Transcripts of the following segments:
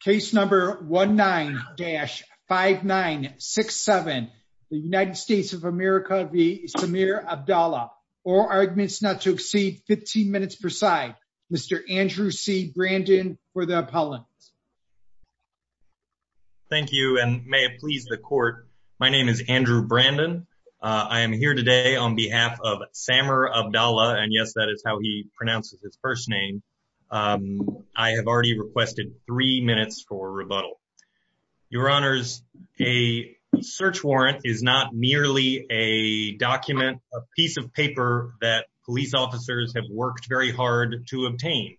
Case number 19-5967. The United States of America v. Samer Abdalla. All arguments not to exceed 15 minutes per side. Mr. Andrew C. Brandon for the appellant. Thank you and may it please the court. My name is Andrew Brandon. I am here today on behalf of Samer Abdalla and yes that is how he pronounces his first name. I have already requested three minutes for rebuttal. Your honors, a search warrant is not merely a document, a piece of paper that police officers have worked very hard to obtain.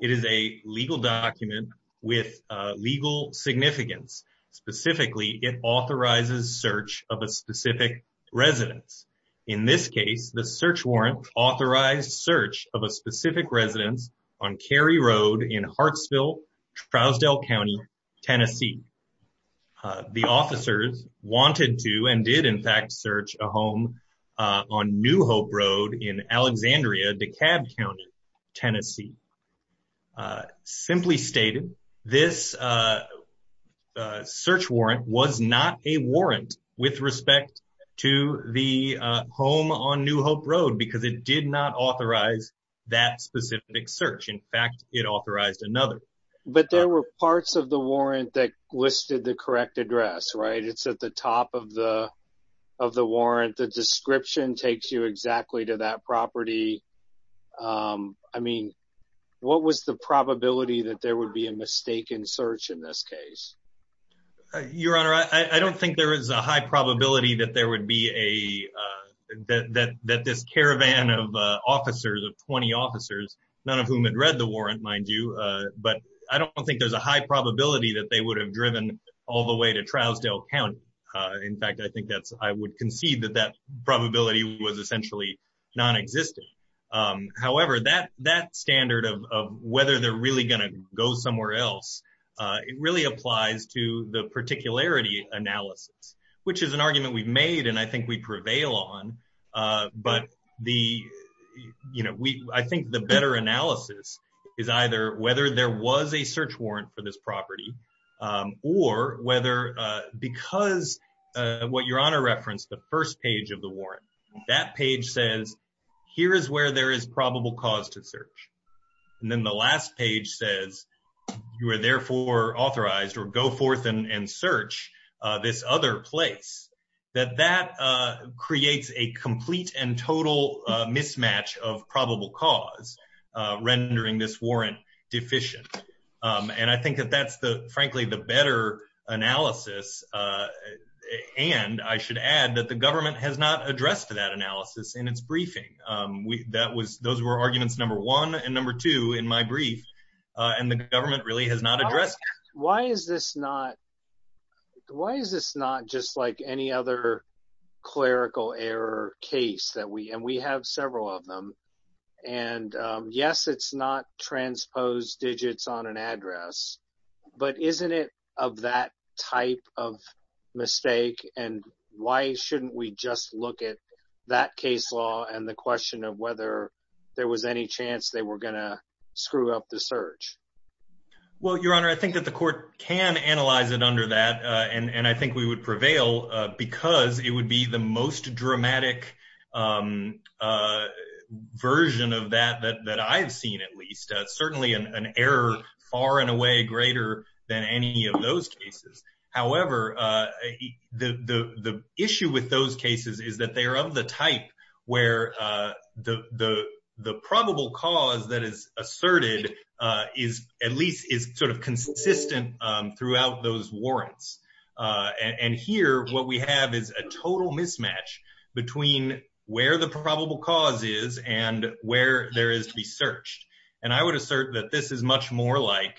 It is a legal document with legal significance. Specifically it authorizes search of a specific residence. In this case the search authorized search of a specific residence on Carey Road in Hartsville, Trousdale County, Tennessee. The officers wanted to and did in fact search a home on New Hope Road in Alexandria, DeKalb County, Tennessee. Simply stated this search warrant was not a warrant with respect to the home on New Hope Road because it did not authorize that specific search. In fact it authorized another. But there were parts of the warrant that listed the correct address, right? It's at the top of the of the warrant. The description takes you exactly to that property. I mean what was the probability that there would be a mistaken search in this case? Your honor, I don't think there is a high probability that this caravan of officers, of 20 officers, none of whom had read the warrant mind you, but I don't think there's a high probability that they would have driven all the way to Trousdale County. In fact I think that's I would concede that that probability was essentially non-existent. However that standard of whether they're really going to go somewhere else, it really applies to the particularity analysis which is an argument we've made and I think we prevail on. But I think the better analysis is either whether there was a search warrant for this property or whether because what your honor referenced, the first page of the warrant, that page says here is where there is probable cause to search. And then the last page says you are therefore authorized or go forth and search this other place. That that creates a complete and total mismatch of probable cause rendering this warrant deficient. And I think that that's the frankly the better analysis and I should add that the government has not addressed that analysis in its briefing. That was those were arguments number one and number two in my brief and the government really has not addressed it. Why is this not just like any other clerical error case that we and we have several of them and yes it's not transposed digits on an address but isn't it of that type of mistake and why shouldn't we just look at that case law and the question of whether there was any chance they were going to screw up the search? Well your honor I think that the court can analyze it under that and and I think we would prevail because it would be the most dramatic version of that that I've seen at least. Certainly an error far and away greater than any of those cases. However the issue with those cases is that they are of the type where the probable cause that is asserted is at least is sort of consistent throughout those warrants and here what we have is a total mismatch between where the probable cause is and where there is to be more like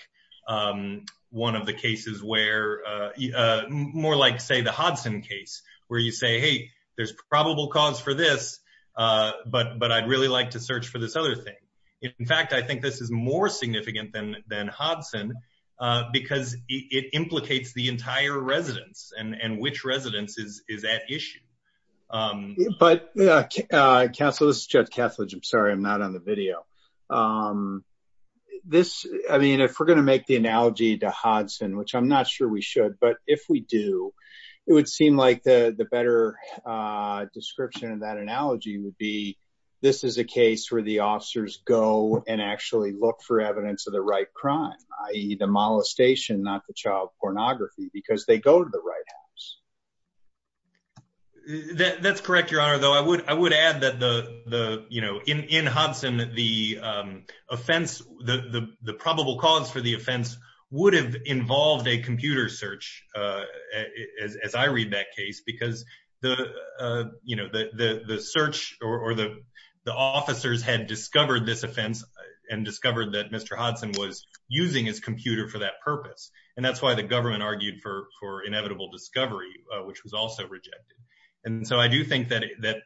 say the Hodson case where you say hey there's probable cause for this but but I'd really like to search for this other thing. In fact I think this is more significant than than Hodson because it implicates the entire residence and and which residence is is at issue. But counsel this is Judge Kethledge. I'm sorry I'm not on the video. This I mean if we're going to make the analogy to Hodson which I'm not sure we should but if we do it would seem like the the better description of that analogy would be this is a case where the officers go and actually look for evidence of the right crime i.e. the molestation not the child pornography because they go to the right house. That that's correct your honor though I I would add that the the you know in in Hodson the offense the the probable cause for the offense would have involved a computer search as I read that case because the you know the the search or the the officers had discovered this offense and discovered that Mr. Hodson was using his computer for that purpose and that's why the government argued for for inevitable discovery which was also rejected and so I do think that that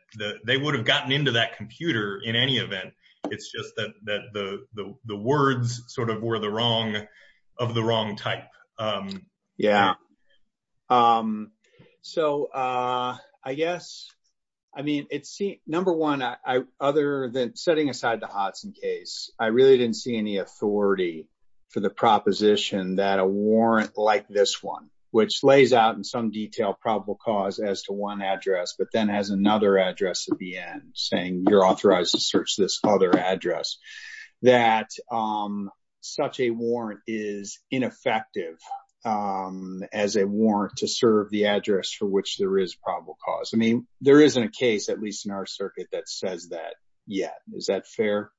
they would have gotten into that computer in any event it's just that that the the words sort of were the wrong of the wrong type. Yeah so I guess I mean it's see number one I other than setting aside the Hodson case I really didn't see any authority for the proposition that a warrant like this one which lays out in some detail probable cause as to one address but then has another address at the end saying you're authorized to search this other address that such a warrant is ineffective as a warrant to serve the address for which there is probable cause. I mean there isn't a case at least in our circuit that says that yet is that fair?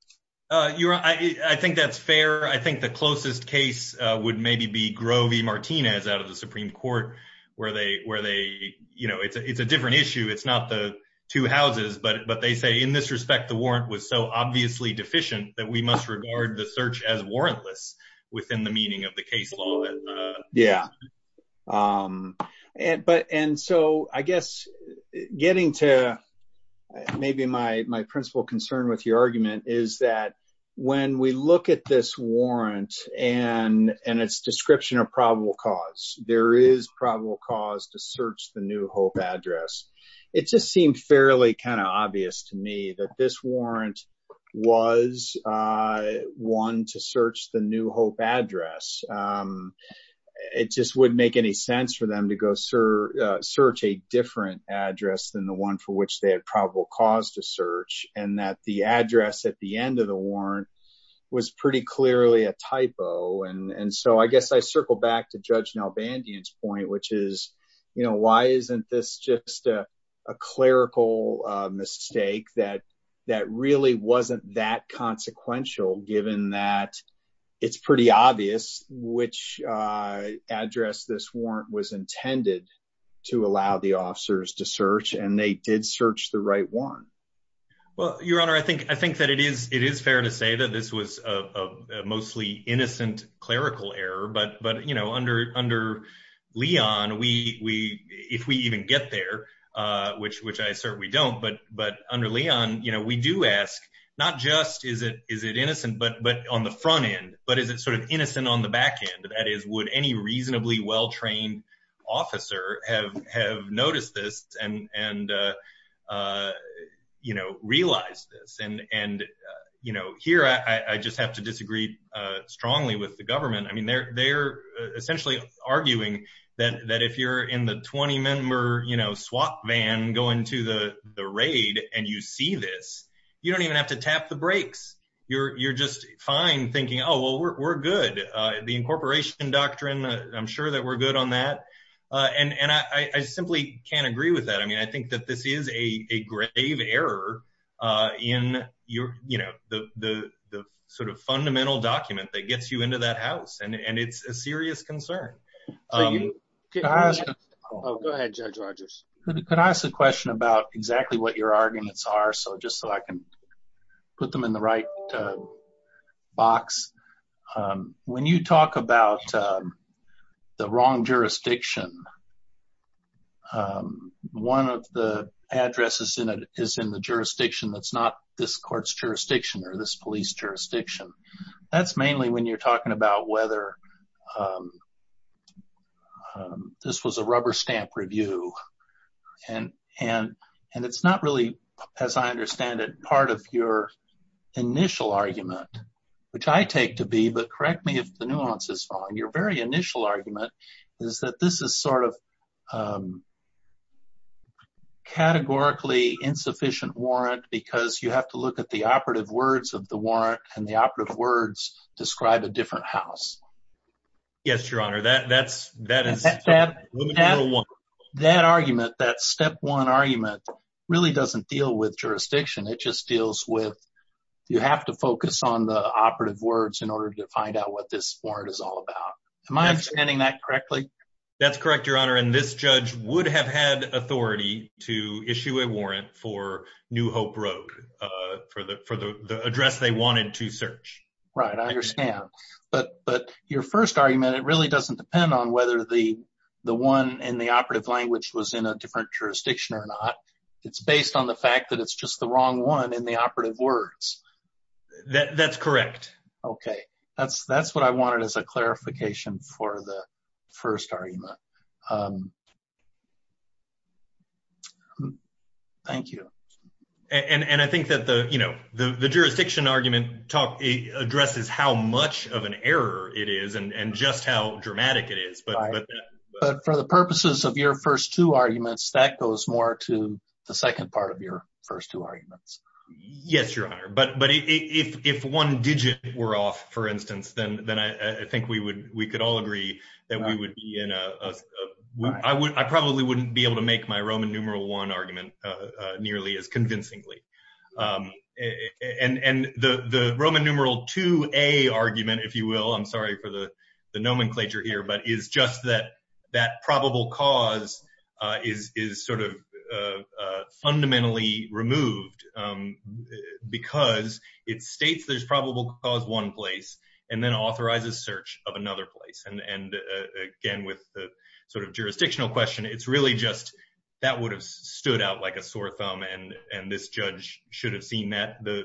Your honor I think that's fair I think the closest case would maybe be Grovey Martinez out of the Supreme Court where they where they you know it's a it's a different issue it's not the two houses but but they say in this respect the warrant was so obviously deficient that we must regard the search as warrantless within the meaning of the case law. Yeah but and so I guess getting to maybe my my principal concern with your argument is that when we look at this warrant and and its description of probable cause there is probable cause to search the new hope address it just seemed fairly kind of obvious to me that this warrant was one to search the new hope address. It just wouldn't make any sense for them to go search a different address than the one for which they had probable cause to search and that the address at the end of the warrant was pretty clearly a typo and and so I guess I circle back to Judge Nalbandian's point which is you know why isn't this just a a clerical mistake that that really wasn't that consequential given that it's pretty obvious which address this warrant was intended to allow the officers to search and they did search the right one. Well your honor I think I think that it is it is fair to say that this was a mostly innocent clerical error but but you know under under Leon we we if we even get there uh which which I assert we don't but but under Leon you know we do ask not just is it is it innocent but but on the front end but is it sort of innocent on the back end that is would any you know realize this and and uh you know here I I just have to disagree uh strongly with the government. I mean they're they're essentially arguing that that if you're in the 20 member you know swap van going to the the raid and you see this you don't even have to tap the brakes you're you're just fine thinking oh well we're good uh the incorporation doctrine I'm sure that we're good on that uh and and I I simply can't agree with that I mean I think that this is a a grave error uh in your you know the the the sort of fundamental document that gets you into that house and and it's a serious concern. Um oh go ahead Judge Rodgers. Could I ask a question about exactly what your arguments are so just so I can put them in the right uh box um when you talk about um the wrong jurisdiction um one of the addresses in it is in the jurisdiction that's not this court's jurisdiction or this police jurisdiction that's mainly when you're talking about whether um this was a rubber stamp review and and and it's not really as I understand it your initial argument which I take to be but correct me if the nuance is wrong your very initial argument is that this is sort of um categorically insufficient warrant because you have to look at the operative words of the warrant and the operative words describe a different house. Yes your honor that that's that is that that argument that step one argument really doesn't deal with jurisdiction it just deals with you have to focus on the operative words in order to find out what this warrant is all about. Am I understanding that correctly? That's correct your honor and this judge would have had authority to issue a warrant for New Hope Road uh for the for the address they wanted to search. Right I understand but but your first argument it really doesn't depend on whether the the one in the operative language was in a it's based on the fact that it's just the wrong one in the operative words. That that's correct. Okay that's that's what I wanted as a clarification for the first argument. Thank you. And and I think that the you know the the jurisdiction argument talk addresses how much of an error it is and and just how dramatic it is but. But for the purposes of your first two arguments that goes more to the second part of your first two arguments. Yes your honor but but if if one digit were off for instance then then I I think we would we could all agree that we would be in a I would I probably wouldn't be able to make my Roman numeral one argument uh nearly as convincingly um and and the the Roman numeral 2a argument if you will I'm sorry for the the nomenclature here but is just that that probable cause uh is is sort of uh fundamentally removed um because it states there's probable cause one place and then authorizes search of another place and and again with the sort of jurisdictional question it's really just that would have stood out like a sore thumb and and this judge should have seen that the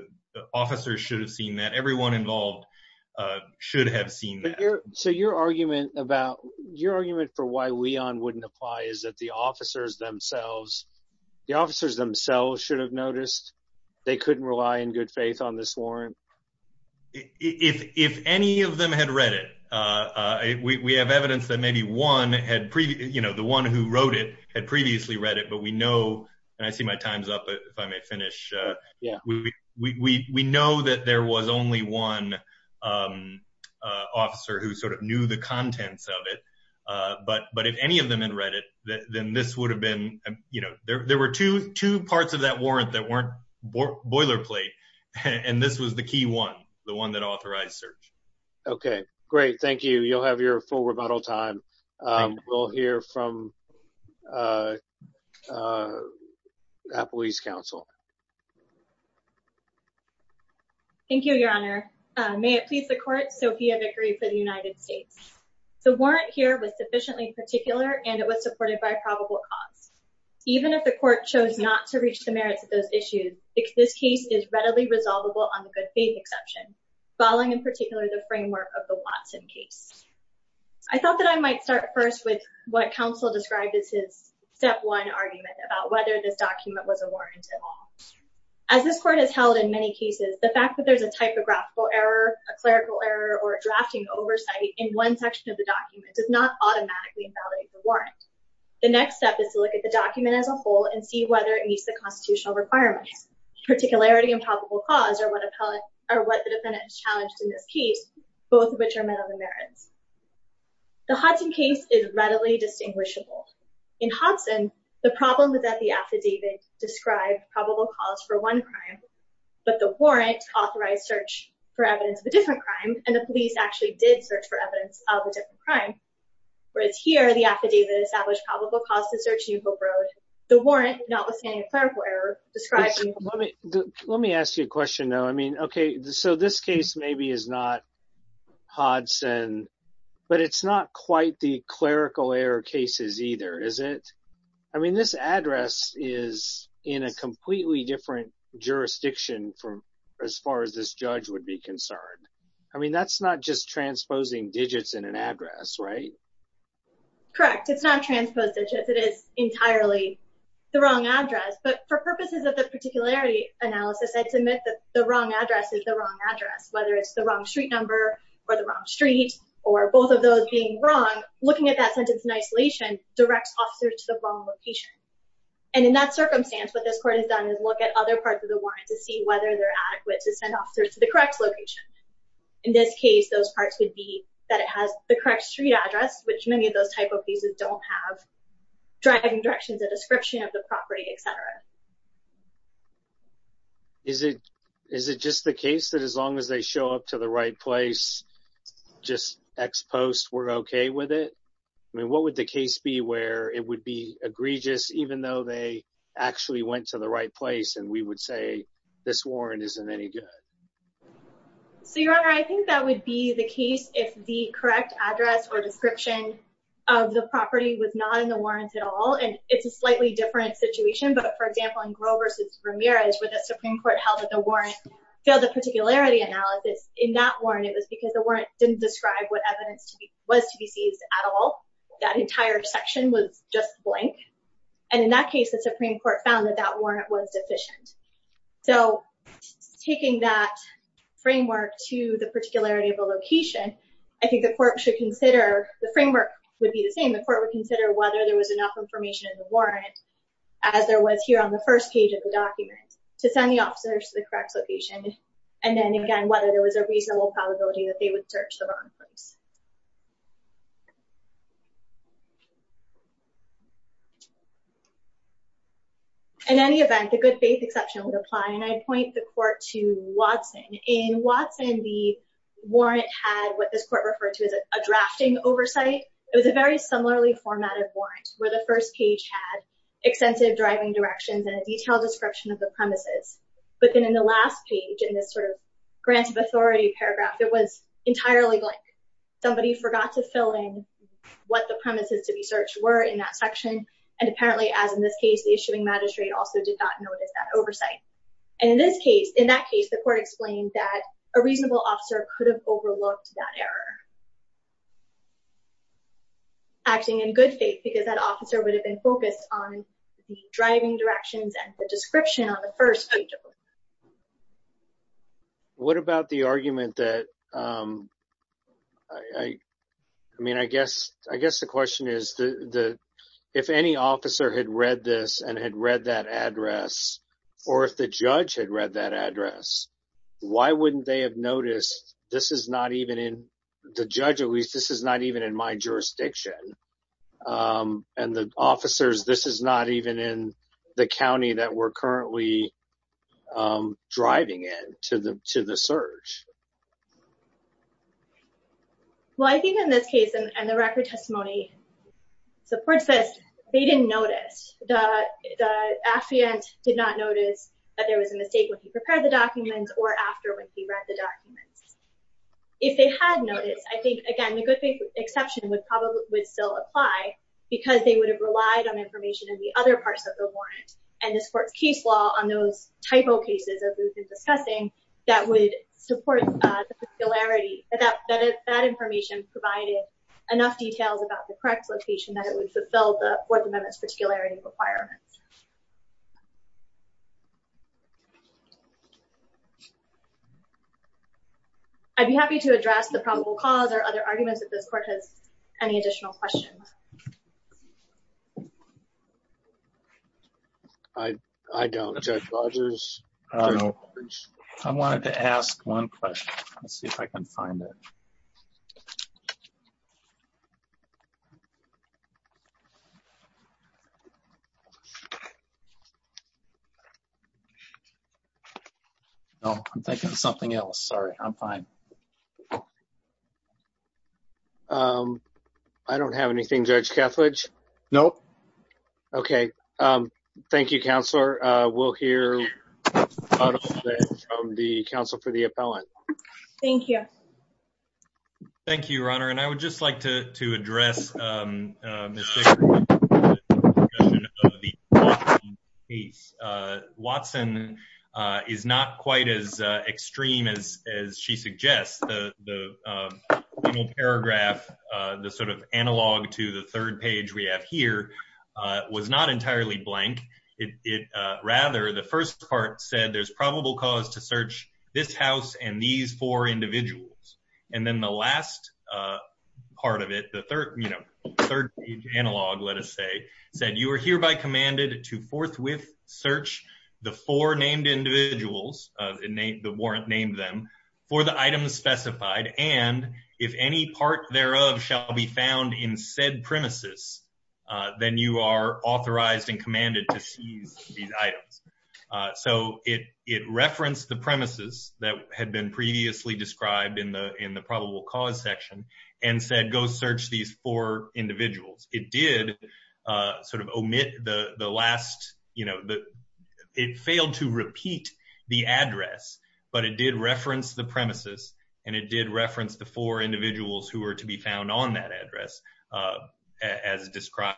officers should have seen that everyone involved uh should have seen that so your argument about your argument for why we on wouldn't apply is that the officers themselves the officers themselves should have noticed they couldn't rely in good faith on this warrant if if any of them had read it uh uh we we have evidence that maybe one had previous you know the one who wrote it had previously read it but we know and I see my time's up if I may finish uh we we know that there was only one um uh officer who sort of knew the contents of it uh but but if any of them had read it then this would have been you know there there were two two parts of that warrant that weren't boilerplate and this was the key one the one that authorized search okay great thank you you'll have your full rebuttal time um we'll hear from uh uh police council thank you your honor uh may it please the court sophia vickery for the united states the warrant here was sufficiently particular and it was supported by probable cause even if the court chose not to reach the merits of those issues this case is readily resolvable on the good faith exception following in particular the framework of the watson case I thought that I might start first with what counsel described as his step one argument about whether this document was a warrant at all as this court has held in many cases the fact that there's a typographical error a clerical error or a drafting oversight in one section of the document does not automatically invalidate the warrant the next step is to look at the document as a whole and see whether it meets the constitutional requirements particularity and probable cause or what appellate or what the defendant is challenged in this case both of which are met on the merits the hudson case is readily distinguishable in hudson the problem is that the affidavit described probable cause for one crime but the warrant authorized search for evidence of a different crime and the police actually did search for evidence of a different crime whereas here the affidavit established probable cause to search new hope road the warrant notwithstanding a clerical error describing let me let me ask you a question though i mean okay so this case maybe is not hodson but it's not quite the clerical error cases either is it i mean this address is in a completely different jurisdiction from as far as this judge would be concerned i mean that's not just transposing digits in an address right correct it's not transposed digits it is entirely the wrong address but for purposes of particularity analysis i'd submit that the wrong address is the wrong address whether it's the wrong street number or the wrong street or both of those being wrong looking at that sentence in isolation directs officers to the wrong location and in that circumstance what this court has done is look at other parts of the warrant to see whether they're adequate to send officers to the correct location in this case those parts would be that it has the correct street address which many of those type of pieces don't have driving directions a description of the property etc is it is it just the case that as long as they show up to the right place just ex post we're okay with it i mean what would the case be where it would be egregious even though they actually went to the right place and we would say this warrant isn't any good so your honor i think that would be the case if the correct address or description of the property was not in the warrants at all and it's a slightly different situation but for example in grover's ramirez where the supreme court held that the warrant filled the particularity analysis in that warrant it was because the warrant didn't describe what evidence to be was to be seized at all that entire section was just blank and in that case the supreme court found that that warrant was deficient so taking that framework to the particularity of the location i think the court should consider the framework would be the same the court would consider whether there was enough information in the warrant as there was here on the first page of the document to send the officers to the correct location and then again whether there was a reasonable probability that they would search the wrong place in any event the good faith exception would apply and i point the court to watson in watson the warrant had what this court referred to as a drafting oversight it was a very similarly formatted warrant where the first page had extensive driving directions and a detailed description of the premises but then in the last page in this sort of grant of authority paragraph it was entirely blank somebody forgot to fill in what the premises to be searched were in that section and apparently as in this case the and in this case in that case the court explained that a reasonable officer could have overlooked that error acting in good faith because that officer would have been focused on driving directions and the description on the first page what about the argument that i i mean i guess i guess the question is the the if any officer had read this and had read that address or if the judge had read that address why wouldn't they have noticed this is not even in the judge at least this is not even in my jurisdiction and the officers this is not even in the county that we're currently driving in to the to the search well i think in this case and the record testimony supports this they didn't notice that the affiant did not notice that there was a mistake when he prepared the documents or after when he read the documents if they had noticed i think again the good faith exception would probably would still apply because they would have relied on information in the other parts of the warrant and this court's case law on those typo cases as we've been discussing that would support the particularity that that information provided enough details about the correct location that would fulfill the fourth amendment's particularity requirements i'd be happy to address the probable cause or other arguments that this court has any additional questions i i don't judge rogers i don't know i wanted to ask one question let's see if i can find it oh i'm thinking of something else sorry i'm fine um i don't have anything judge cathledge nope okay um thank you counselor uh we'll hear from the council for the appellant thank you thank you your honor and i would just like to address um watson uh is not quite as uh extreme as as she suggests the the uh final paragraph uh the sort of analog to the third page we have here uh was not entirely blank it it uh rather the first part said there's probable cause to search this house and these four individuals and then the last uh part of it the third you know third page analog let us say said you are hereby commanded to forthwith search the four named individuals of the name the warrant named them for the items specified and if any part thereof shall be found in said premises uh then you are authorized and commanded to seize these items uh so it it referenced the premises that had been previously described in the in the probable cause section and said go search these four individuals it did uh sort of omit the the last you know the it failed to repeat the address but it did reference the premises and it did reference the four individuals who were to be found on that address uh as described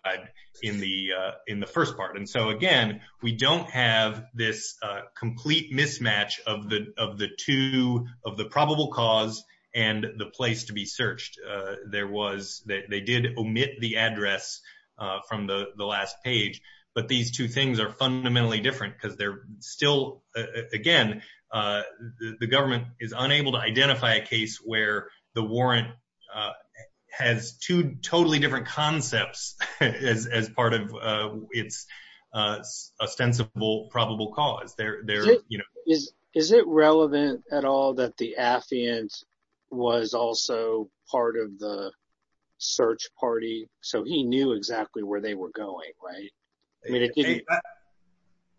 in the uh in the first part and so again we don't have this uh complete mismatch of the of the two of the probable cause and the place to be searched uh there was they did omit the address uh from the the last page but these two things are fundamentally different because they're still again uh the government is unable to identify a case where the warrant uh has two is it relevant at all that the affiant was also part of the search party so he knew exactly where they were going right i mean it didn't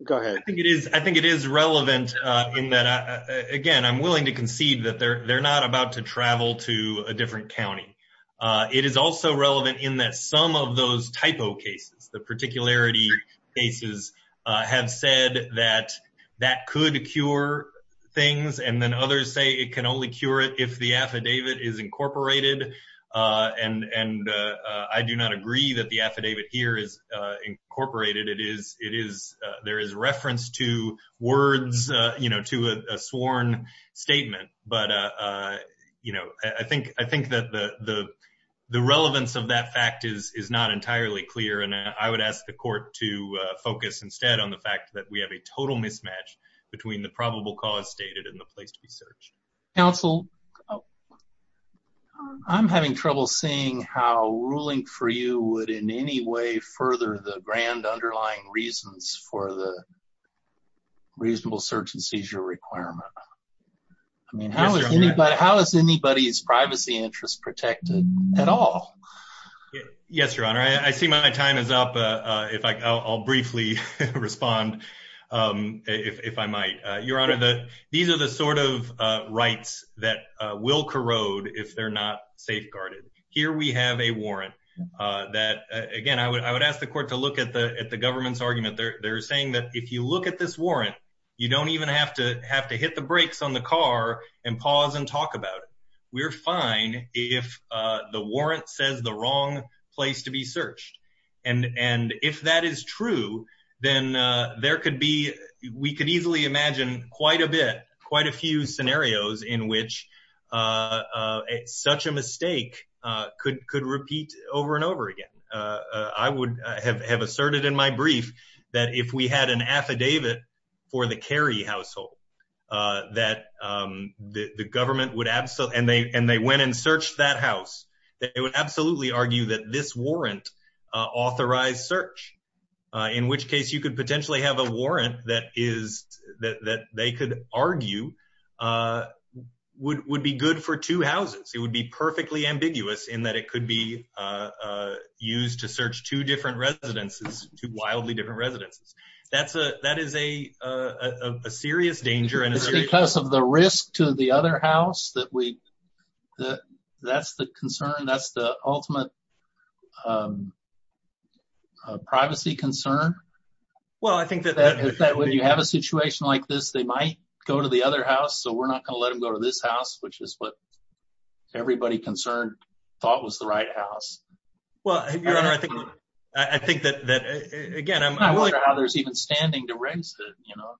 go ahead i think it is i think it is relevant uh in that again i'm willing to concede that they're they're not about to travel to a different county uh it is also relevant in that some of those typo cases the particularity cases uh have said that that could cure things and then others say it can only cure it if the affidavit is incorporated uh and and uh i do not agree that the affidavit here is uh incorporated it is it is uh there is reference to words uh you know to a sworn statement but uh uh you know i think i think that the the the relevance of that fact is is not entirely clear and i would ask the focus instead on the fact that we have a total mismatch between the probable cause stated in the place to be searched counsel i'm having trouble seeing how ruling for you would in any way further the grand underlying reasons for the reasonable search and seizure requirement i mean how is anybody how is anybody's privacy interest protected at all yes your honor i see my time is up uh if i i'll briefly respond um if i might uh your honor the these are the sort of uh rights that uh will corrode if they're not safeguarded here we have a warrant uh that again i would i would ask the court to look at the at the government's argument they're they're saying that if you look at this warrant you don't even have to have to hit the brakes on the car and pause and talk about it we're fine if uh the warrant says the wrong place to be searched and and if that is true then uh there could be we could easily imagine quite a bit quite a few scenarios in which uh such a mistake uh could could repeat over and over again uh i would have have asserted in my brief that if we had an affidavit for the carry household uh that um the the government would absolutely and they and they went and searched that house that they would absolutely argue that this warrant uh authorized search uh in which case you could potentially have a warrant that is that that they could argue uh would would be good for two houses it would be perfectly ambiguous in that it could be uh used to search two different residences two wildly different residences that's a that is a uh a serious danger and it's because of the risk to the other house that we that that's the concern that's the ultimate um privacy concern well i think that that if that when you have a situation like this they might go to the other house so we're not going to let him go to this house which is what everybody concerned thought was the right house well your honor i think i think that that again i wonder how there's even standing to raise it you know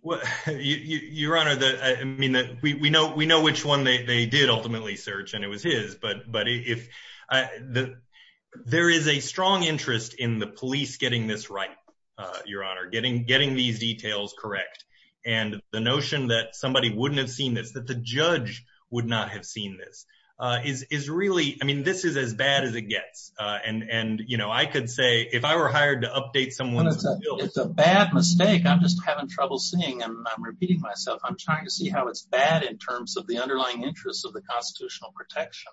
what your honor the i mean that we we know we know which one they they did ultimately search and it was his but but if i the there is a strong interest in the police getting this right uh your honor getting getting these details correct and the notion that somebody wouldn't have seen this that the judge would not have seen this uh is is really i mean this is as bad as it gets uh and and you know i could say if i were hired to update someone it's a bad mistake i'm just having trouble seeing and i'm repeating myself i'm trying to see how it's bad in terms of the underlying interests of the constitutional protection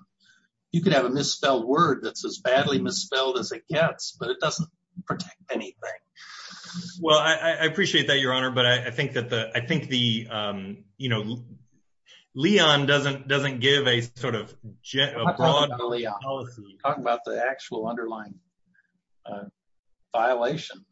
you could have a misspelled word that's badly misspelled as it gets but it doesn't protect anything well i i appreciate that your honor but i think that the i think the um you know leon doesn't doesn't give a sort of talk about the actual underlying uh violation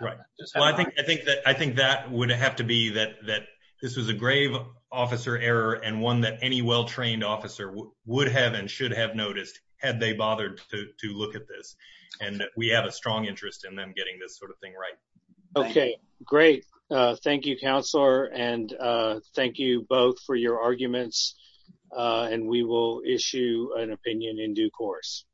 right well i think i think that i think that would have to be that that this was a grave officer error and one that any well-trained officer would have and should have noticed had they bothered to to look at this and we have a strong interest in them getting this sort of thing right okay great uh thank you counselor and uh thank you both for your arguments uh and we will issue an opinion in due course